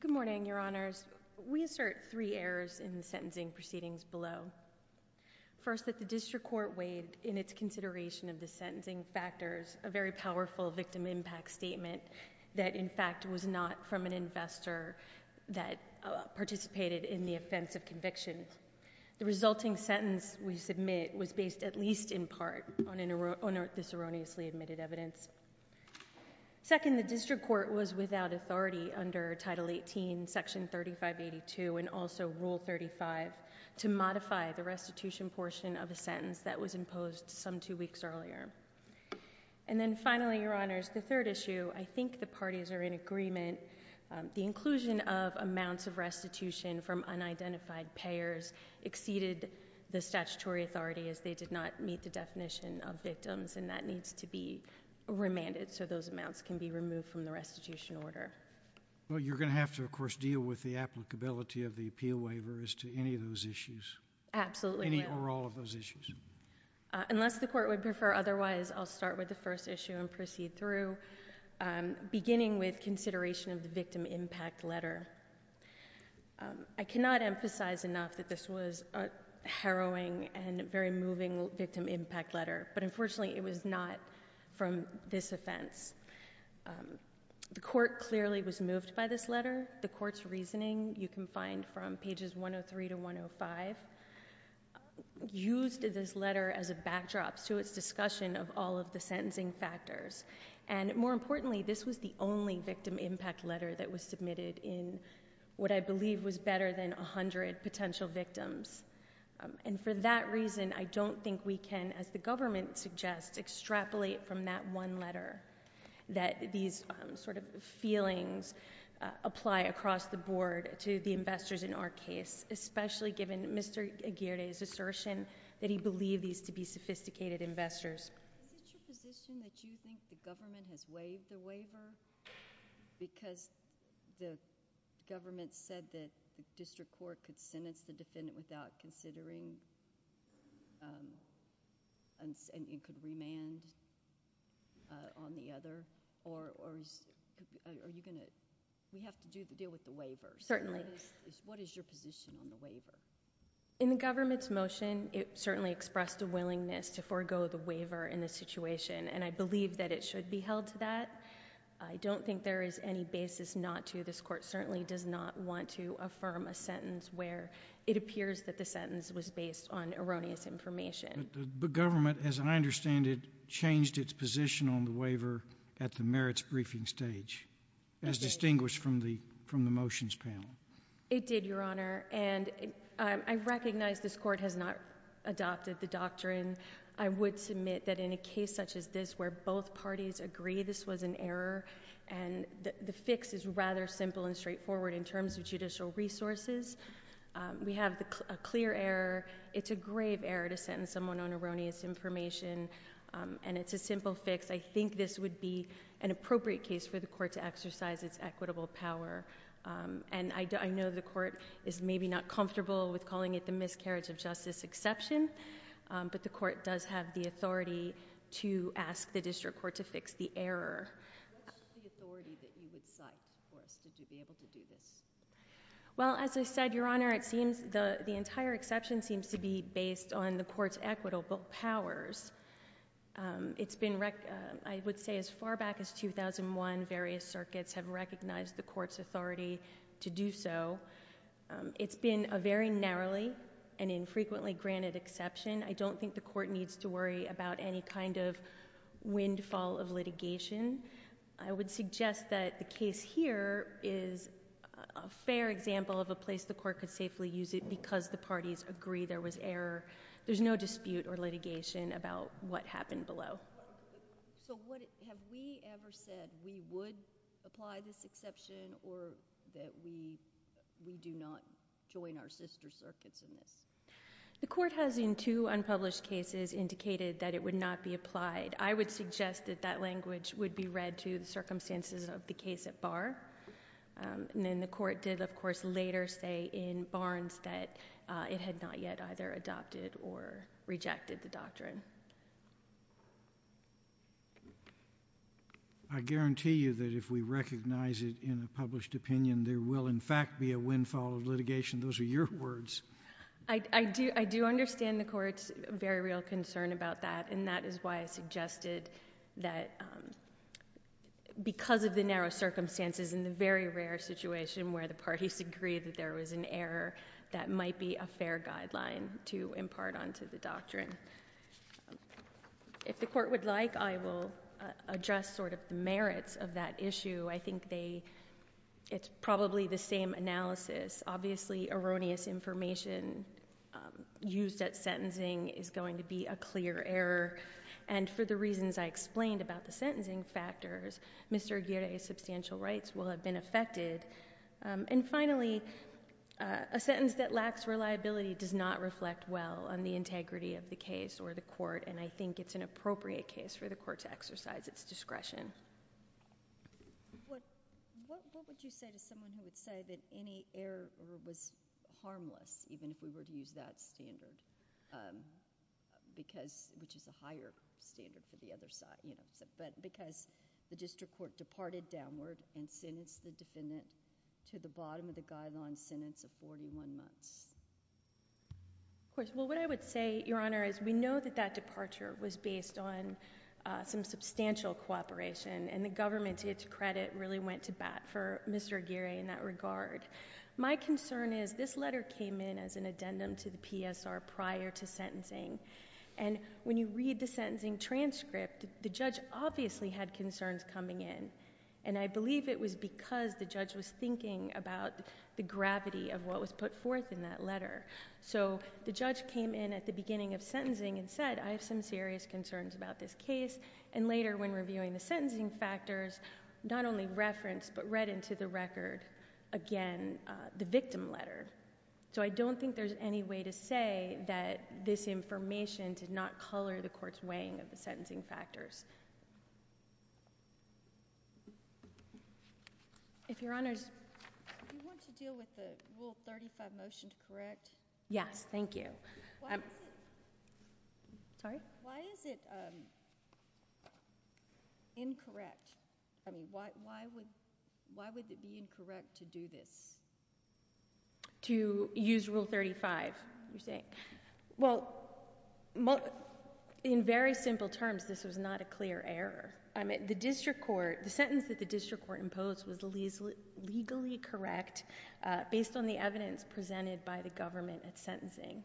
Good morning, your honors. We assert three errors in the sentencing proceedings below. First that the district court weighed in its consideration of the sentencing factors a very powerful victim impact statement that in fact was not from an investor that participated in the offense of conviction. The resulting sentence we submit was based at least in part on this erroneously admitted evidence. Second, the district court was without authority under title 18 section 3582 and also rule 35 to modify the restitution portion of the sentence that was imposed some two weeks earlier. And then finally, your honors, the third issue, I think the parties are in agreement. The inclusion of amounts of restitution from unidentified payers exceeded the statutory authority as they did not meet the definition of victims and that needs to be remanded so those amounts can be removed from the restitution order. Well, you're going to have to, of course, deal with the applicability of the appeal waiver as to any of those issues. Absolutely. Any or all of those issues. Unless the court would prefer otherwise, I'll start with the first issue and proceed through. Beginning with consideration of the victim impact letter. I cannot emphasize enough that this was a harrowing and very moving victim impact letter, but unfortunately it was not from this offense. The court clearly was moved by this letter. The court's reasoning, you can find from pages 103 to 105, used this letter as a backdrop to its discussion of all of the sentencing factors. And more importantly, this was the only victim impact letter that was submitted in what I believe was better than 100 potential victims. And for that reason, I don't think we can, as the government suggests, extrapolate from that one letter that these sort of feelings apply across the board to the investors in our case, especially given Mr. Aguirre's assertion that he believed these to be sophisticated investors. Is it your position that you think the government has waived the waiver because the government said that the district court could sentence the defendant without considering and could remand on the other? Or are you going to, we have to deal with the waiver. Certainly. What is your position on the waiver? In the government's motion, it certainly expressed a willingness to forego the waiver in this situation, and I believe that it should be held to that. I don't think there is any basis not to. This court certainly does not want to affirm a sentence where it appears that the sentence was based on erroneous information. The government, as I understand it, changed its position on the waiver at the merits briefing stage, as distinguished from the motions panel. It did, Your Honor. And I recognize this court has not adopted the doctrine. I would submit that in a case such as this where both parties agree this was an error, and the fix is rather simple and straightforward in terms of judicial resources. We have a clear error. It's a grave error to sentence someone on erroneous information, and it's a simple fix. I think this would be an appropriate case for the court to exercise its equitable power. And I know the court is maybe not comfortable with calling it the miscarriage of justice exception, but the court does have the authority to ask the district court to fix the error. What is the authority that you would cite for us to be able to do this? Well, as I said, Your Honor, the entire exception seems to be based on the court's equitable powers. I would say as far back as 2001, various circuits have recognized the court's authority to do so. It's been a very narrowly and infrequently granted exception. I don't think the court needs to worry about any kind of windfall of litigation. I would suggest that the case here is a fair example of a place the court could safely use it because the parties agree there was error. There's no dispute or litigation about what happened below. So have we ever said we would apply this exception or that we do not join our sister circuits in this? The court has, in two unpublished cases, indicated that it would not be applied. I would suggest that that language would be read to the circumstances of the case at bar. And then the court did, of course, later say in Barnes that it had not yet either adopted or rejected the doctrine. I guarantee you that if we recognize it in a published opinion, there will in fact be a windfall of litigation. Those are your words. I do understand the court's very real concern about that, and that is why I suggested that because of the narrow circumstances and the very rare situation where the parties agree that there was an error, that might be a fair guideline to impart onto the doctrine. If the court would like, I will address sort of the merits of that issue. I think they it's probably the same analysis. Obviously, erroneous information used at sentencing is going to be a clear error. And for the reasons I explained about the sentencing factors, Mr. Aguirre's substantial rights will have been affected. And finally, a sentence that lacks reliability does not reflect well on the integrity of the case or the court, and I think it's an appropriate case for the court to exercise its discretion. What would you say to someone who would say that any error was harmless, even if we were to use that standard, which is a higher standard for the other side, but because the district court departed downward and sentenced the defendant to the bottom of the guideline sentence of 41 months? Of course. Well, what I would say, Your Honor, is we know that that departure was based on some substantial cooperation, and the government, to its credit, really went to bat for Mr. Aguirre in that regard. My concern is this letter came in as an addendum to the PSR prior to sentencing, and when you read the sentencing transcript, the judge obviously had concerns coming in, and I believe it was because the judge was thinking about the gravity of what was put forth in that letter. So the judge came in at the beginning of sentencing and said, I have some serious concerns about this case, and later, when reviewing the sentencing factors, not only referenced, but read into the record again the victim letter. So I don't think there's any way to say that this information did not color the court's weighing of the sentencing factors. If Your Honor's— Do you want to deal with the Rule 35 motion to correct? Yes, thank you. Why is it— Sorry? Why is it incorrect? I mean, why would it be incorrect to do this? To use Rule 35, you're saying? Well, in very simple terms, this was not a clear error. I mean, the district court, the sentence that the district court imposed was legally correct based on the evidence presented by the government at sentencing.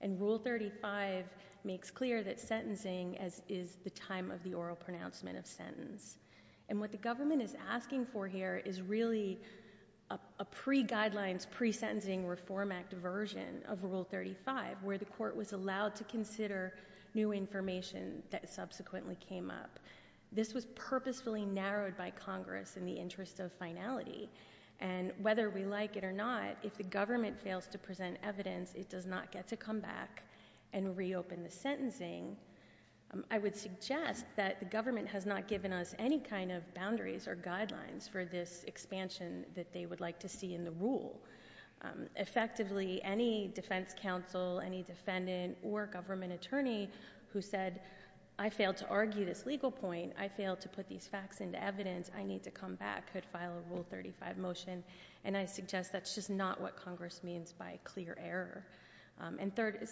And Rule 35 makes clear that sentencing is the time of the oral pronouncement of sentence. And what the government is asking for here is really a pre-guidelines, pre-sentencing Reform Act version of Rule 35, where the court was allowed to consider new information that subsequently came up. This was purposefully narrowed by Congress in the interest of finality. And whether we like it or not, if the government fails to present evidence, it does not get to come back and reopen the sentencing, I would suggest that the government has not given us any kind of boundaries or guidelines for this expansion that they would like to see in the rule. Effectively, any defense counsel, any defendant, or government attorney who said, I failed to argue this legal point, I failed to put these facts into evidence, I need to come back, could file a Rule 35 motion. And I suggest that's just not what Congress means by clear error. And third,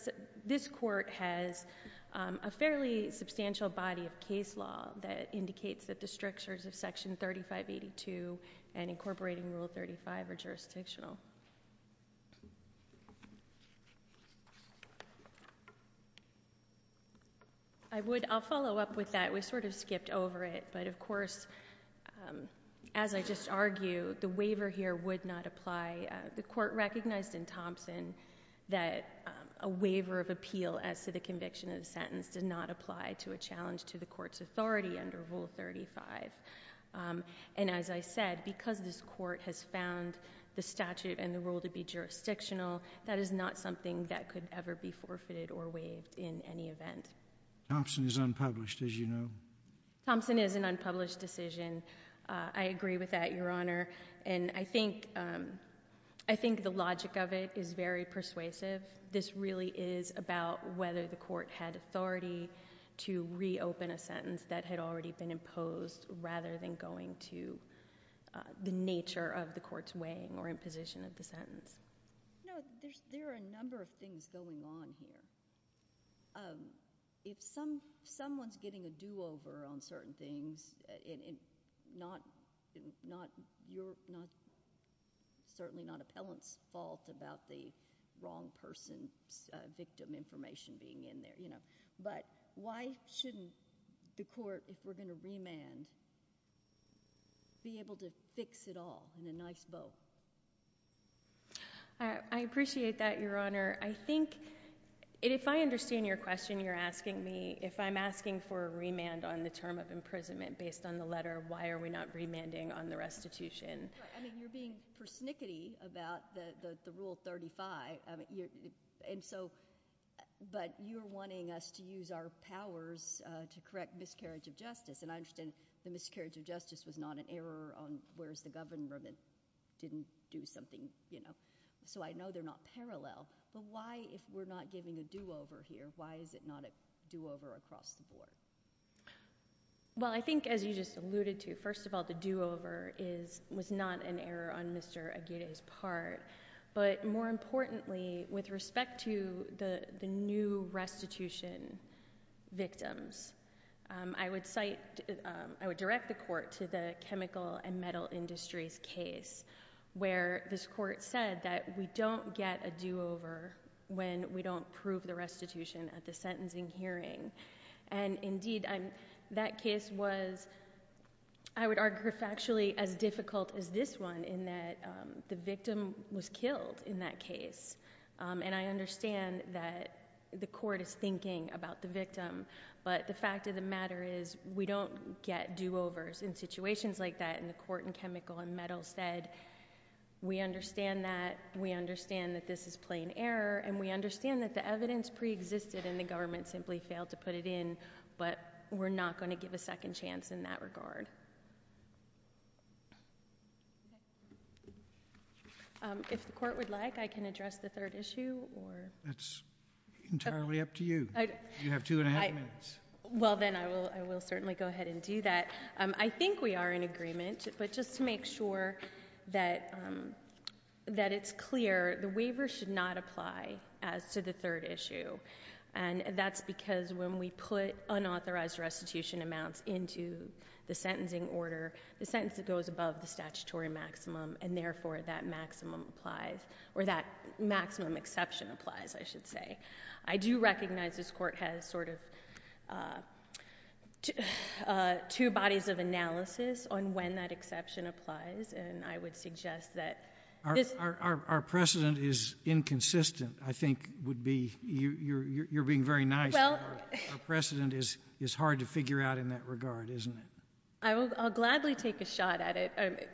this court has a fairly substantial body of case law that indicates that the strictures of Section 3582 and incorporating Rule 35 are jurisdictional. I would, I'll follow up with that. We sort of skipped over it. But of course, as I just argued, the waiver here would not apply. The court recognized in Thompson that a waiver of appeal as to the conviction of the sentence did not apply to a challenge to the court's authority under Rule 35. And as I said, because this court has found the statute and the rule to be jurisdictional, that is not something that could ever be forfeited or waived in any event. Thompson is unpublished, as you know. Thompson is an unpublished decision. I agree with that, Your Honor. And I think, I think the logic of it is very persuasive. This really is about whether the court had authority to reopen a sentence that had already been imposed rather than going to the nature of the court's weighing or imposition of the sentence. No, there's, there are a number of things going on here. If some, someone's getting a do-over on certain things, it, it, not, not, you're not, certainly not appellant's fault about the wrong person's victim information being in there, you know. But why shouldn't the court, if we're going to remand, be able to fix it all in a nice boat? I appreciate that, Your Honor. I think, if I understand your question, you're asking me if I'm asking for a remand on the term of imprisonment based on the letter, why are we not remanding on the restitution? I mean, you're being persnickety about the, the, the Rule 35. I mean, you're, and so, but you're wanting us to use our powers to correct miscarriage of justice. And I understand the miscarriage of justice was not an error on where's the governor that didn't do something, you know, so I know they're not parallel. But why, if we're not giving a do-over here, why is it not a do-over across the board? Well, I think, as you just alluded to, first of all, the do-over is, was not an error on Mr. Aguirre's part. But more importantly, with respect to the, the new restitution victims, I would cite, I would direct the court to the chemical and metal industries case, where this court said that we don't get a do-over when we don't prove the restitution at the sentencing hearing. And indeed, I'm, that case was, I would argue, factually as difficult as this one, in that the victim was killed in that case. And I understand that the court is thinking about the victim. But the fact of the matter is, we don't get do-overs in this case. We understand that. We understand that this is plain error. And we understand that the evidence pre-existed and the government simply failed to put it in. But we're not going to give a second chance in that regard. If the court would like, I can address the third issue, or... That's entirely up to you. You have two and a half minutes. Well then, I will, I will certainly go ahead and do that. I think we are in agreement, but just to make sure that it's clear, the waiver should not apply as to the third issue. And that's because when we put unauthorized restitution amounts into the sentencing order, the sentence that goes above the statutory maximum, and therefore that maximum applies, or that maximum exception applies, I should say. I do recognize this court has sort of two bodies of analysis on when that exception applies, and I would suggest that... Our precedent is inconsistent, I think would be... You're being very nice. Our precedent is hard to figure out in that regard, isn't it? I'll gladly take a shot at it.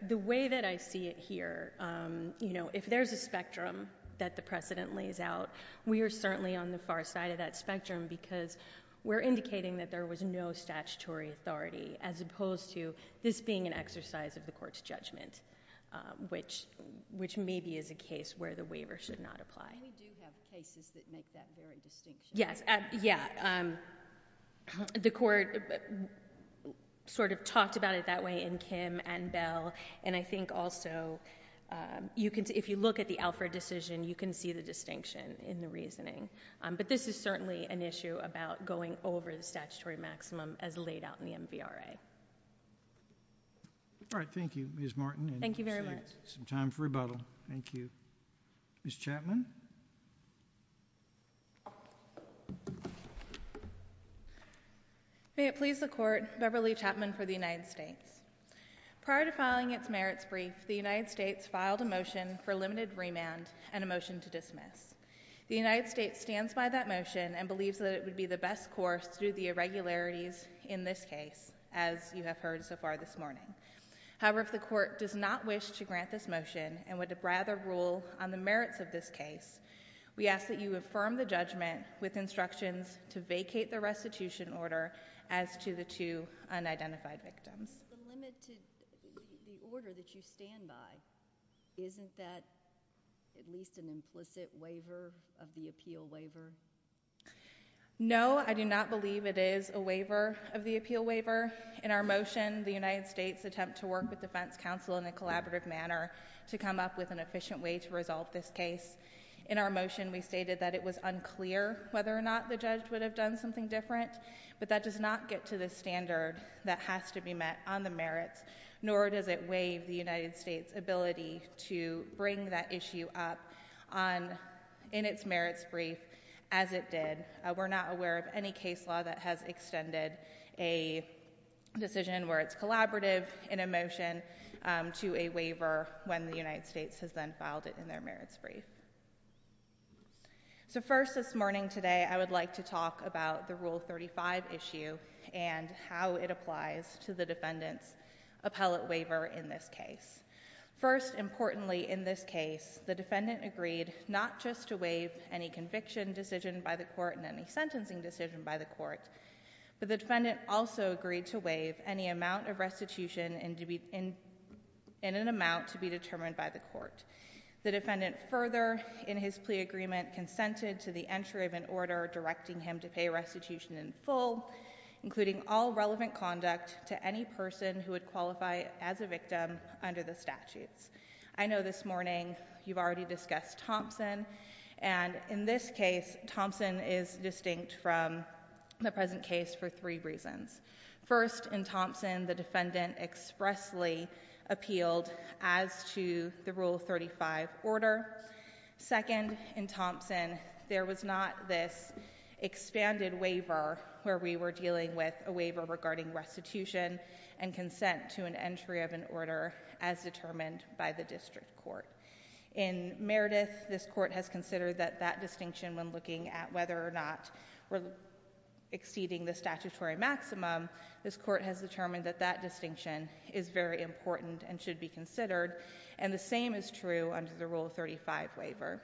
The way that I see it here, you know, if there's a spectrum that the precedent lays out, we are certainly on the far side of that spectrum because we're on statutory authority, as opposed to this being an exercise of the court's judgment, which maybe is a case where the waiver should not apply. We do have cases that make that very distinction. Yes, yeah. The court sort of talked about it that way in Kim and Bell, and I think also if you look at the Alfred decision, you can see the distinction in the reasoning. But this is certainly an issue about going over the statutory maximum as laid out in the MVRA. All right. Thank you, Ms. Martin, and we'll save some time for rebuttal. Thank you very much. Thank you. Ms. Chapman? May it please the Court, Beverly Chapman for the United States. Prior to filing its merits brief, the United States filed a motion for limited remand and a motion to dismiss. The United States stands by that motion and believes that it would be the best course through the irregularities in this case, as you have heard so far this morning. However, if the Court does not wish to grant this motion and would rather rule on the merits of this case, we ask that you affirm the judgment with instructions to vacate the restitution order as to the two unidentified victims. Ms. Chapman, the order that you stand by, isn't that at least an implicit waiver of the appeal waiver? No, I do not believe it is a waiver of the appeal waiver. In our motion, the United States attempt to work with defense counsel in a collaborative manner to come up with an efficient way to resolve this case. In our motion, we stated that it was unclear whether or not the judge would have done something different, but that does not get to the standard that has to be met on the merits, nor does it waive the United States' ability to bring that issue up in its merits brief, as it did. We're not aware of any case law that has extended a decision where it's collaborative in a motion to a waiver when the United States has then filed it in their merits brief. So first this morning today, I would like to talk about the Rule 35 issue and how it applies to the defendant's appellate waiver in this case. First, importantly in this case, the defendant agreed not just to waive any conviction decision by the court and any sentencing decision by the court, but the defendant also agreed to waive any amount of restitution in an amount to be determined by the court. The defendant further in his plea agreement consented to the entry of an order directing him to pay restitution in full, including all relevant conduct to any person who would qualify as a victim under the statutes. I know this morning you've already discussed Thompson, and in this case, Thompson is distinct from the present case for three reasons. First, in Thompson, the defendant expressly appealed as to the Rule 35 order. Second, in Thompson, there was not this expanded waiver where we were dealing with a waiver regarding restitution and consent to an entry of an order as determined by the district court. In Meredith, this court has considered that that distinction when looking at whether or not we're exceeding the statutory maximum, this court has determined that that distinction is very important and should be considered, and the same is true under the Rule 35 waiver.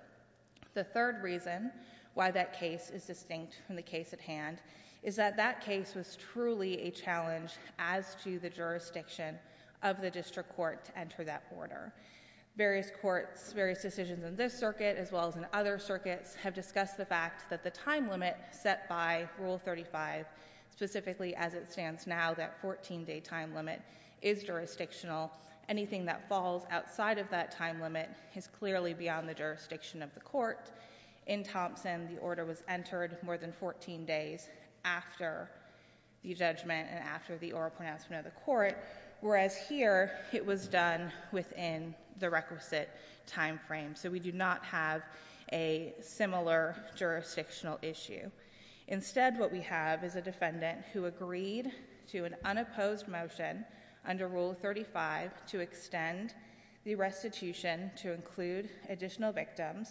The third reason why that case is distinct from the case at hand is that that case was truly a challenge as to the jurisdiction of the district court to enter that order. Various courts, various decisions in this circuit as well as in other circuits have discussed the fact that the time limit set by Rule 35, specifically as it stands now, that 14-day time limit, is jurisdictional. Anything that falls outside of that time limit is clearly beyond the jurisdiction of the court. In Thompson, the order was entered more than 14 days after the judgment and after the oral pronouncement of the court, whereas here it was done within the requisite time frame. So we do not have a similar jurisdictional issue. Instead, what we have is a defendant who agreed to an unopposed motion under Rule 35 to extend the restitution to include additional victims.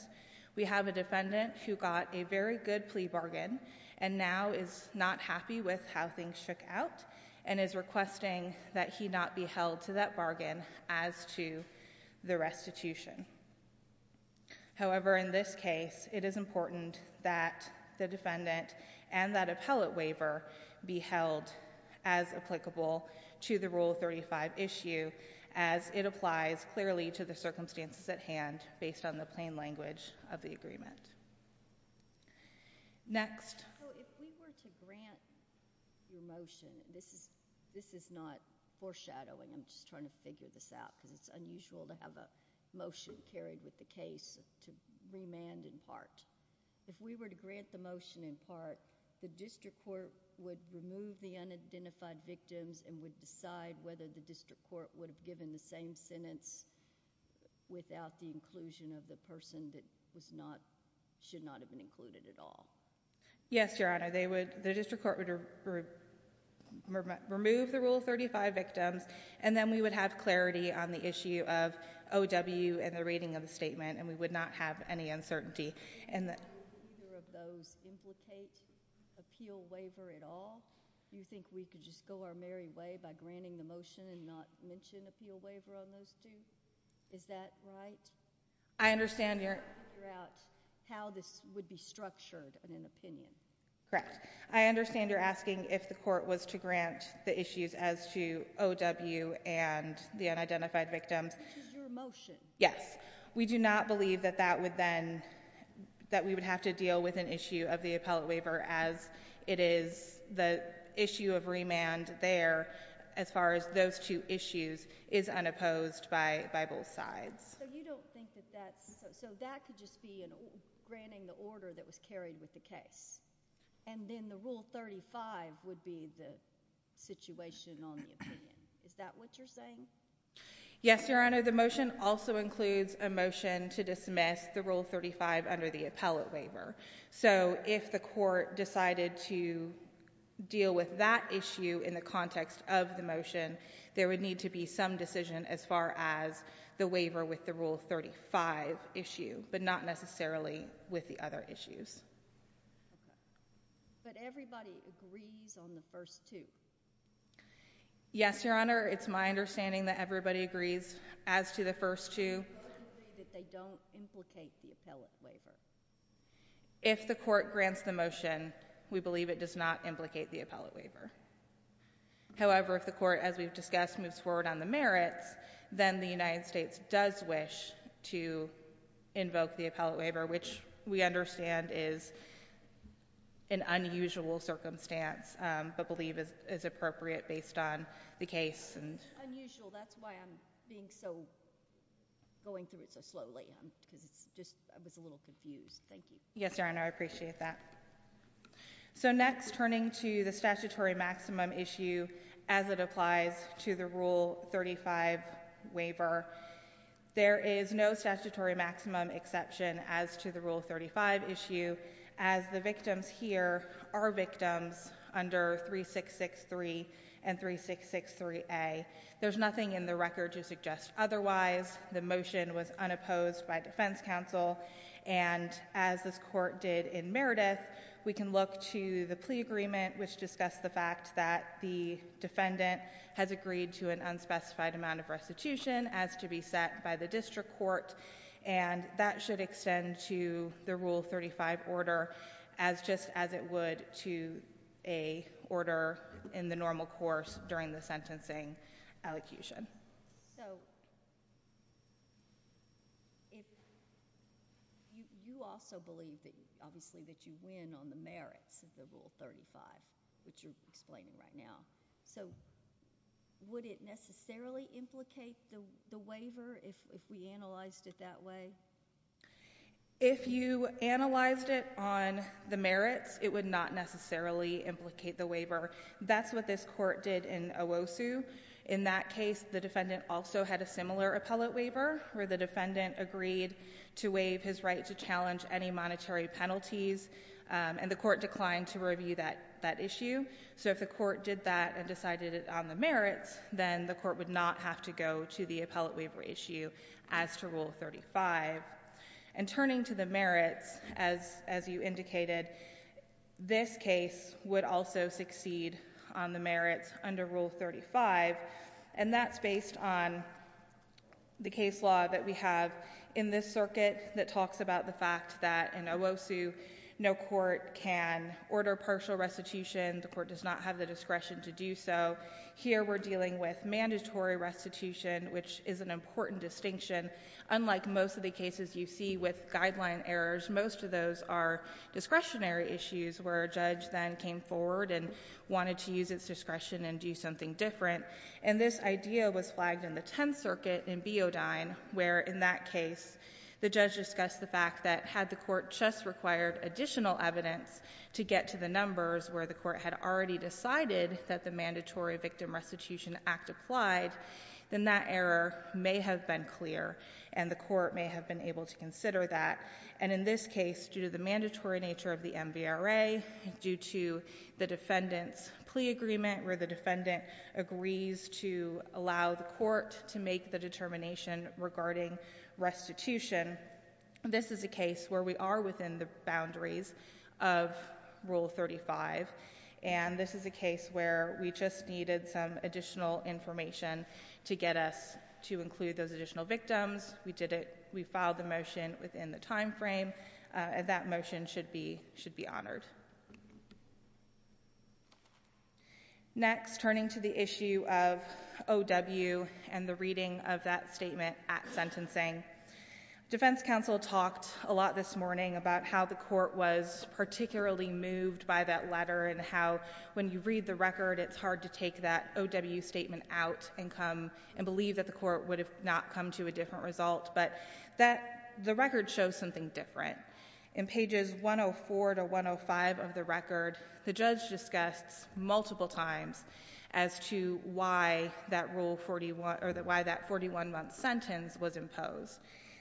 We have a defendant who got a very good plea bargain and now is not happy with how things shook out and is requesting that he not be held to that bargain as to the restitution. However, in this case, it is important that the defendant and that appellate waiver be held as applicable to the Rule 35 issue as it applies clearly to the circumstances at hand based on the plain language of the agreement. Next. So if we were to grant your motion, this is not foreshadowing, I'm just trying to figure this out because it's unusual to have a motion carried with the case to remand in part. If we were to grant the motion in part, the district court would remove the unidentified victims and would decide whether the district court would have given the same sentence without the inclusion of the person that should not have been included at all. Yes, Your Honor. The district court would remove the Rule 35 victims and then we would have clarity on the issue of O.W. and the reading of the statement and we would not have any uncertainty. Would either of those implicate appeal waiver at all? You think we could just go our merry way by granting the motion and not mention appeal waiver on those two? Is that right? I understand, Your Honor. I'm trying to figure out how this would be structured in an opinion. Correct. I understand you're asking if the court was to grant the issues as to O.W. and the unidentified victims. Which is your motion. Yes. We do not believe that that would then, that we would have to deal with an issue of remand there as far as those two issues is unopposed by both sides. So you don't think that's, so that could just be granting the order that was carried with the case and then the Rule 35 would be the situation on the opinion. Is that what you're saying? Yes, Your Honor. The motion also includes a motion to dismiss the Rule 35 under the issue in the context of the motion. There would need to be some decision as far as the waiver with the Rule 35 issue, but not necessarily with the other issues. Okay. But everybody agrees on the first two? Yes, Your Honor. It's my understanding that everybody agrees as to the first two. What if they don't implicate the appellate waiver? If the court grants the motion, we believe it does not implicate the appellate waiver. However, if the court, as we've discussed, moves forward on the merits, then the United States does wish to invoke the appellate waiver, which we understand is an unusual circumstance, but believe is appropriate based on the case. Unusual. That's why I'm being so, going through it so slowly, because it's just, I was a little confused. Thank you. Yes, Your Honor. I appreciate that. So next, turning to the statutory maximum issue as it applies to the Rule 35 waiver, there is no statutory maximum exception as to the Rule 35 issue, as the victims here are victims under 3663 and 3663A. There's nothing in the record to suggest otherwise. The motion was unopposed by defense counsel, and as this court did in Meredith, we can look to the plea agreement, which discussed the fact that the defendant has agreed to an unspecified amount of restitution as to be set by the Rule 35 order, as just as it would to a order in the normal course during the sentencing elocution. So, you also believe, obviously, that you win on the merits of the Rule 35, which you're explaining right now. So would it necessarily implicate the waiver, if we analyzed it that way? If you analyzed it on the merits, it would not necessarily implicate the waiver. That's what this court did in Owosu. In that case, the defendant also had a similar appellate waiver, where the defendant agreed to waive his right to challenge any monetary penalties, and the court declined to review that issue. So if the court did that and decided it on the merits, then the court would not have to go to the appellate waiver issue as to rule 35. And turning to the merits, as you indicated, this case would also succeed on the merits under Rule 35, and that's based on the case law that we have in this circuit that talks about the fact that in Owosu, no court can order partial restitution. The court does not have the discretion to do so. Here we're dealing with mandatory restitution, which is an important distinction. Unlike most of the cases you see with guideline errors, most of those are discretionary issues where a judge then came forward and wanted to use its discretion and do something different. And this idea was flagged in the Tenth Circuit in Beodyne, where in that case, the judge discussed the fact that had the court just required additional evidence to get to the numbers where the court had already decided that the Mandatory Victim Restitution Act applied, then that error may have been clear and the court may have been able to consider that. And in this case, due to the mandatory nature of the MVRA, due to the defendant's plea agreement where the defendant agrees to allow the court to make the determination regarding restitution, this is a case where we are within the boundaries of Rule 35, and this is a case where we just needed some additional information to get us to include those additional victims. We did it. We filed the motion within the time frame, and that motion should be honored. Next, turning to the issue of O.W. and the reading of that statement at sentencing, defense counsel talked a lot this morning about how the court was particularly moved by that letter and how when you read the record, it's hard to take that O.W. statement out and come and believe that the court would have not come to a different result. But the record shows something different. In pages 104 to 105 of the record, the judge discussed multiple times as to why that 41-month sentence was imposed.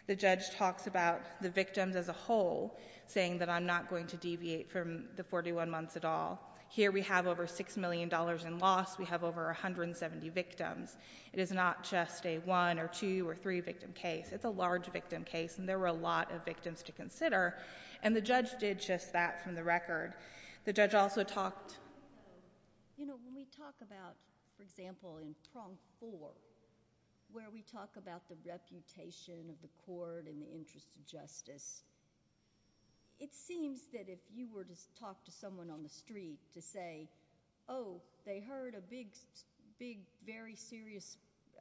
The judge talks about the victims as a whole, saying that I'm not going to deviate from the 41 months at all. Here we have over $6 million in loss. We have over 170 victims. It is not just a one or two or three-victim case. It's a large-victim case, and there were a lot of victims to consider. And the You know, when we talk about, for example, in prong four, where we talk about the reputation of the court and the interest of justice, it seems that if you were to talk to someone on the street to say, oh, they heard a big, very serious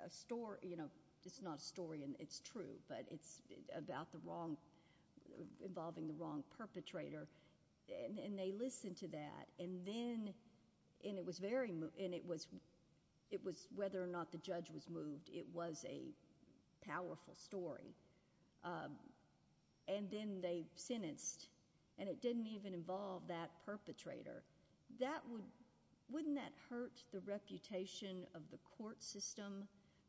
story—you know, it's not a story, and it's true, but it's about the wrong—involving the wrong perpetrator, and they listened to that, and then—and it was whether or not the judge was moved. It was a powerful story. And then they sentenced, and it didn't even involve that perpetrator. That would—wouldn't that hurt the reputation of the court system,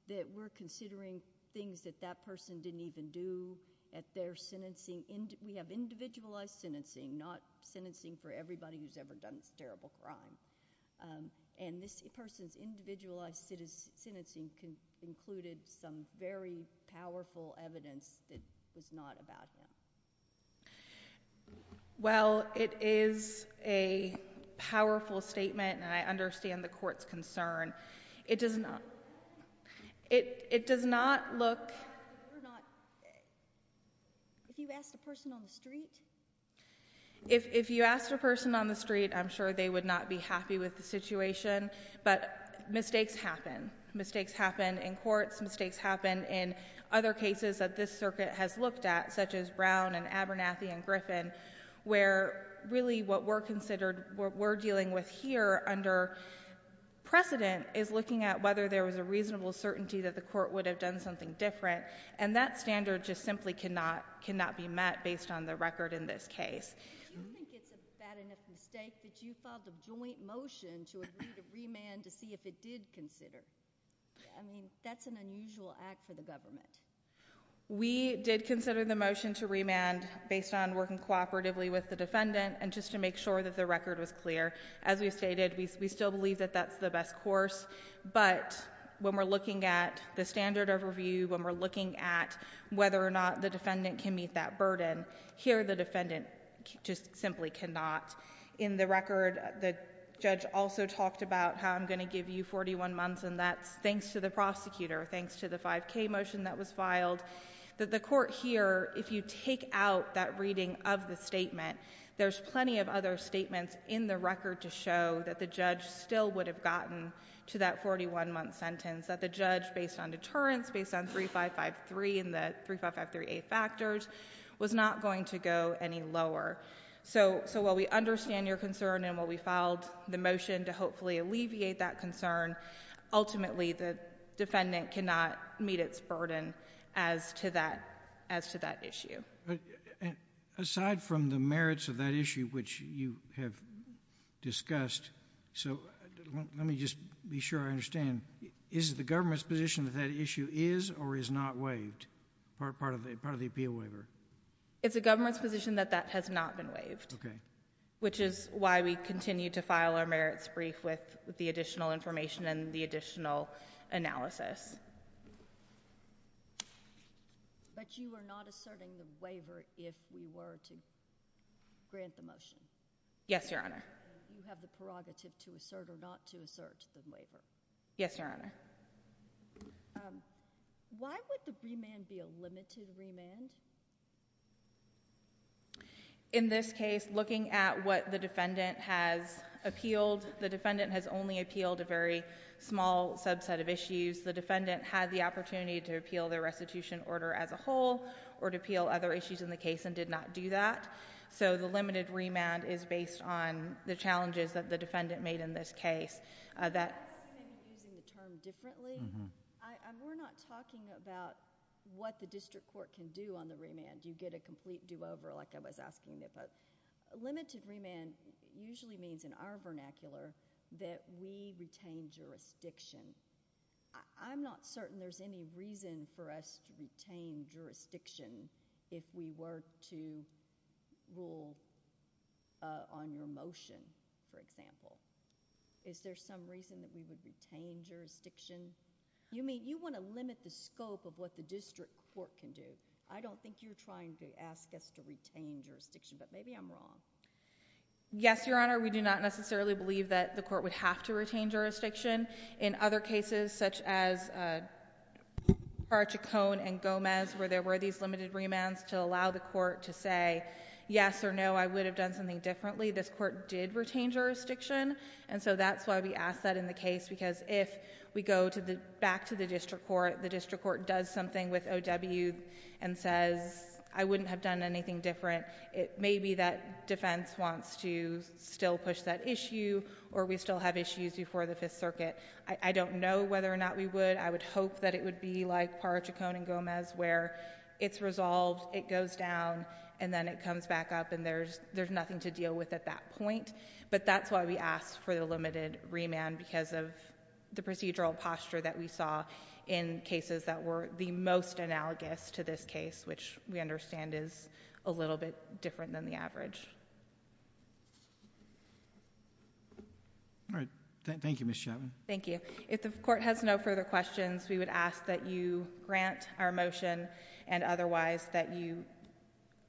that we're considering things that that person didn't even do at their sentencing? We have individualized sentencing, not sentencing for everybody who's ever done this terrible crime. And this person's individualized sentencing included some very powerful evidence that was not about him. Well, it is a powerful statement, and I understand the court's concern. It does not—it does not look— You're not—if you asked a person on the street— If you asked a person on the street, I'm sure they would not be happy with the situation, but mistakes happen. Mistakes happen in courts. Mistakes happen in other cases that this circuit has looked at, such as Brown and Abernathy and Griffin, where really what we're considered—what we're dealing with here under precedent is looking at whether there was a reasonable certainty that the court would have done something different. And that standard just simply cannot—cannot be met based on the record in this case. Do you think it's a bad enough mistake that you filed a joint motion to agree to remand to see if it did consider? I mean, that's an unusual act for the government. We did consider the motion to remand based on working cooperatively with the defendant and just to make sure that the record was clear. As we stated, we still believe that that's the best course, but when we're looking at the standard overview, when we're looking at whether or not the defendant can meet that burden, here the defendant just simply cannot. In the record, the judge also talked about how I'm going to give you 41 months, and that's thanks to the prosecutor, thanks to the 5K motion that was filed. The court here, if you take out that reading of the statement, there's plenty of other record to show that the judge still would have gotten to that 41-month sentence, that the judge, based on deterrence, based on 3553 and the 3553A factors, was not going to go any lower. So while we understand your concern and while we filed the motion to hopefully alleviate that concern, ultimately the defendant cannot meet its burden as to that — as to that issue. But aside from the merits of that issue, which you have discussed, so let me just be sure I understand. Is it the government's position that that issue is or is not waived part of the — part of the appeal waiver? It's the government's position that that has not been waived. Okay. Which is why we continue to file our merits brief with the additional information and the additional analysis. But you are not asserting the waiver if we were to grant the motion? Yes, Your Honor. You have the prerogative to assert or not to assert the waiver? Yes, Your Honor. Why would the remand be a limited remand? In this case, looking at what the defendant has appealed, the defendant has only appealed a very small subset of issues. The defendant had the opportunity to appeal the restitution order as a whole or to appeal other issues in the case and did not do that. So the limited remand is based on the challenges that the defendant made in this case. That's using the term differently. We're not talking about what the district court can do on the remand. You get a complete do-over like I was asking it. Limited remand usually means in our vernacular that we retain jurisdiction. I'm not certain there's any reason for us to retain jurisdiction if we were to rule on your motion, for example. Is there some reason that we would retain jurisdiction? You want to limit the scope of what the district court can do. I don't think you're trying to ask us to retain jurisdiction, but maybe I'm wrong. Yes, Your Honor. We do not necessarily believe that the court would have to retain jurisdiction. In other cases such as Parachicone and Gomez where there were these limited remands to allow the court to say yes or no, I would have done something differently, this court did retain jurisdiction. And so that's why we ask that in the case because if we go back to the district court, the district court does something with O.W. and says I wouldn't have done anything different, maybe that defense wants to still push that issue or we still have issues before the Fifth Circuit. I don't know whether or not we would. I would hope that it would be like Parachicone and Gomez where it's resolved, it goes down, and then it comes back up and there's nothing to deal with at that point. But that's why we ask for the limited remand because of the procedural posture that we saw in cases that were the most analogous to this case, which we understand is a little bit different than the average. All right. Thank you, Ms. Chapman. Thank you. If the court has no further questions, we would ask that you grant our motion and otherwise that you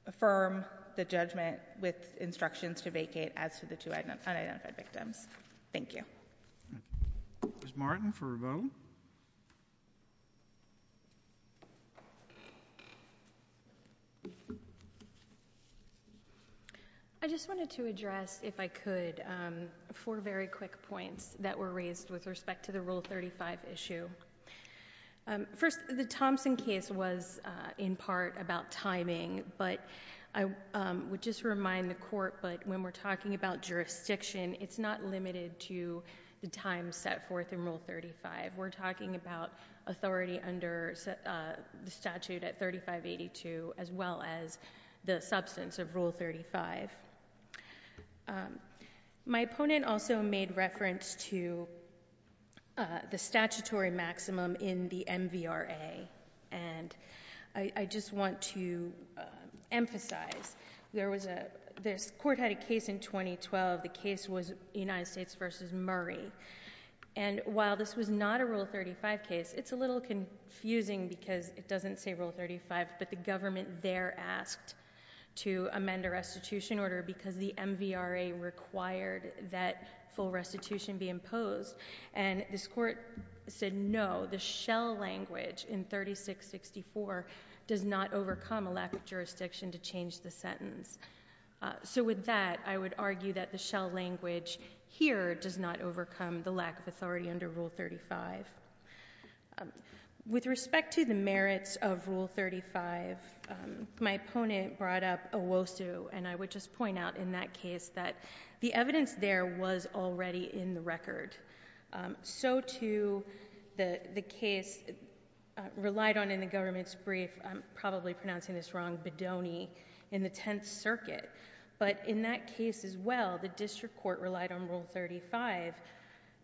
affirm the judgment with instructions to vacate as to the two unidentified victims. Thank you. Ms. Martin for a vote. I just wanted to address, if I could, four very quick points that were raised with respect to the Rule 35 issue. First, the Thompson case was in part about timing, but I would just remind the court that when we're talking about jurisdiction, it's not limited to the time set forth in Rule 35. We're talking about authority under the statute at 3582 as well as the substance of Rule 35. My opponent also made reference to the statutory maximum in the MVRA, and I just want to emphasize this court had a case in 2012. The case was United States v. Murray, and while this was not a Rule 35 case, it's a little confusing because it doesn't say Rule 35, but the government there asked to amend a restitution order because the MVRA required that full restitution be imposed, and this court said no, the shell language in 3664 does not overcome a lack of jurisdiction to change the sentence. So with that, I would argue that the shell language here does not overcome the lack of authority under Rule 35. With respect to the merits of Rule 35, my opponent brought up Owosu, and I would just point out in that case that the evidence there was already in the record. So, too, the case relied on, in the government's brief, I'm probably pronouncing this wrong, Bodoni in the Tenth Circuit, but in that case as well, the district court relied on Rule 35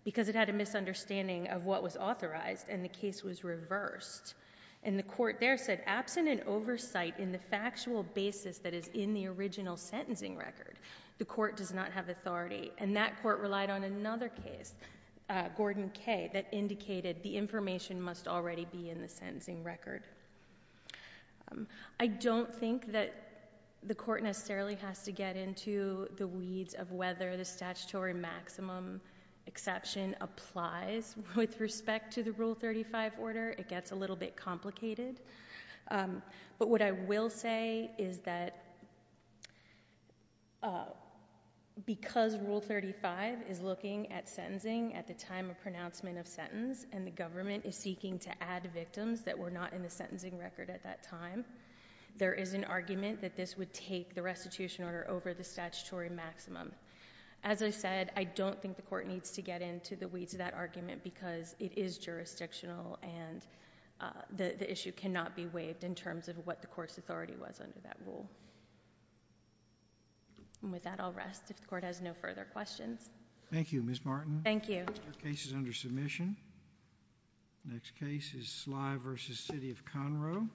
because it had a misunderstanding of what was authorized, and the case was reversed, and the court there said, absent an oversight in the factual basis that is in the original sentencing record, the court does not have authority, and that court relied on another case, Gordon K., that indicated the information must already be in the sentencing record. I don't think that the court necessarily has to get into the weeds of whether the statutory maximum exception applies. With respect to the Rule 35 order, it gets a little bit complicated. But what I will say is that because Rule 35 is looking at sentencing at the time of pronouncement of sentence, and the government is seeking to add victims that were not in the sentencing record at that time, there is an argument that this would take the restitution order over the statutory maximum. As I said, I don't think the court needs to get into the weeds of that argument because it is jurisdictional and the issue cannot be waived in terms of what the court's authority was under that rule. And with that, I'll rest if the court has no further questions. Thank you, Ms. Martin. Thank you. The case is under submission. Next case is Slye v. City of Conroe.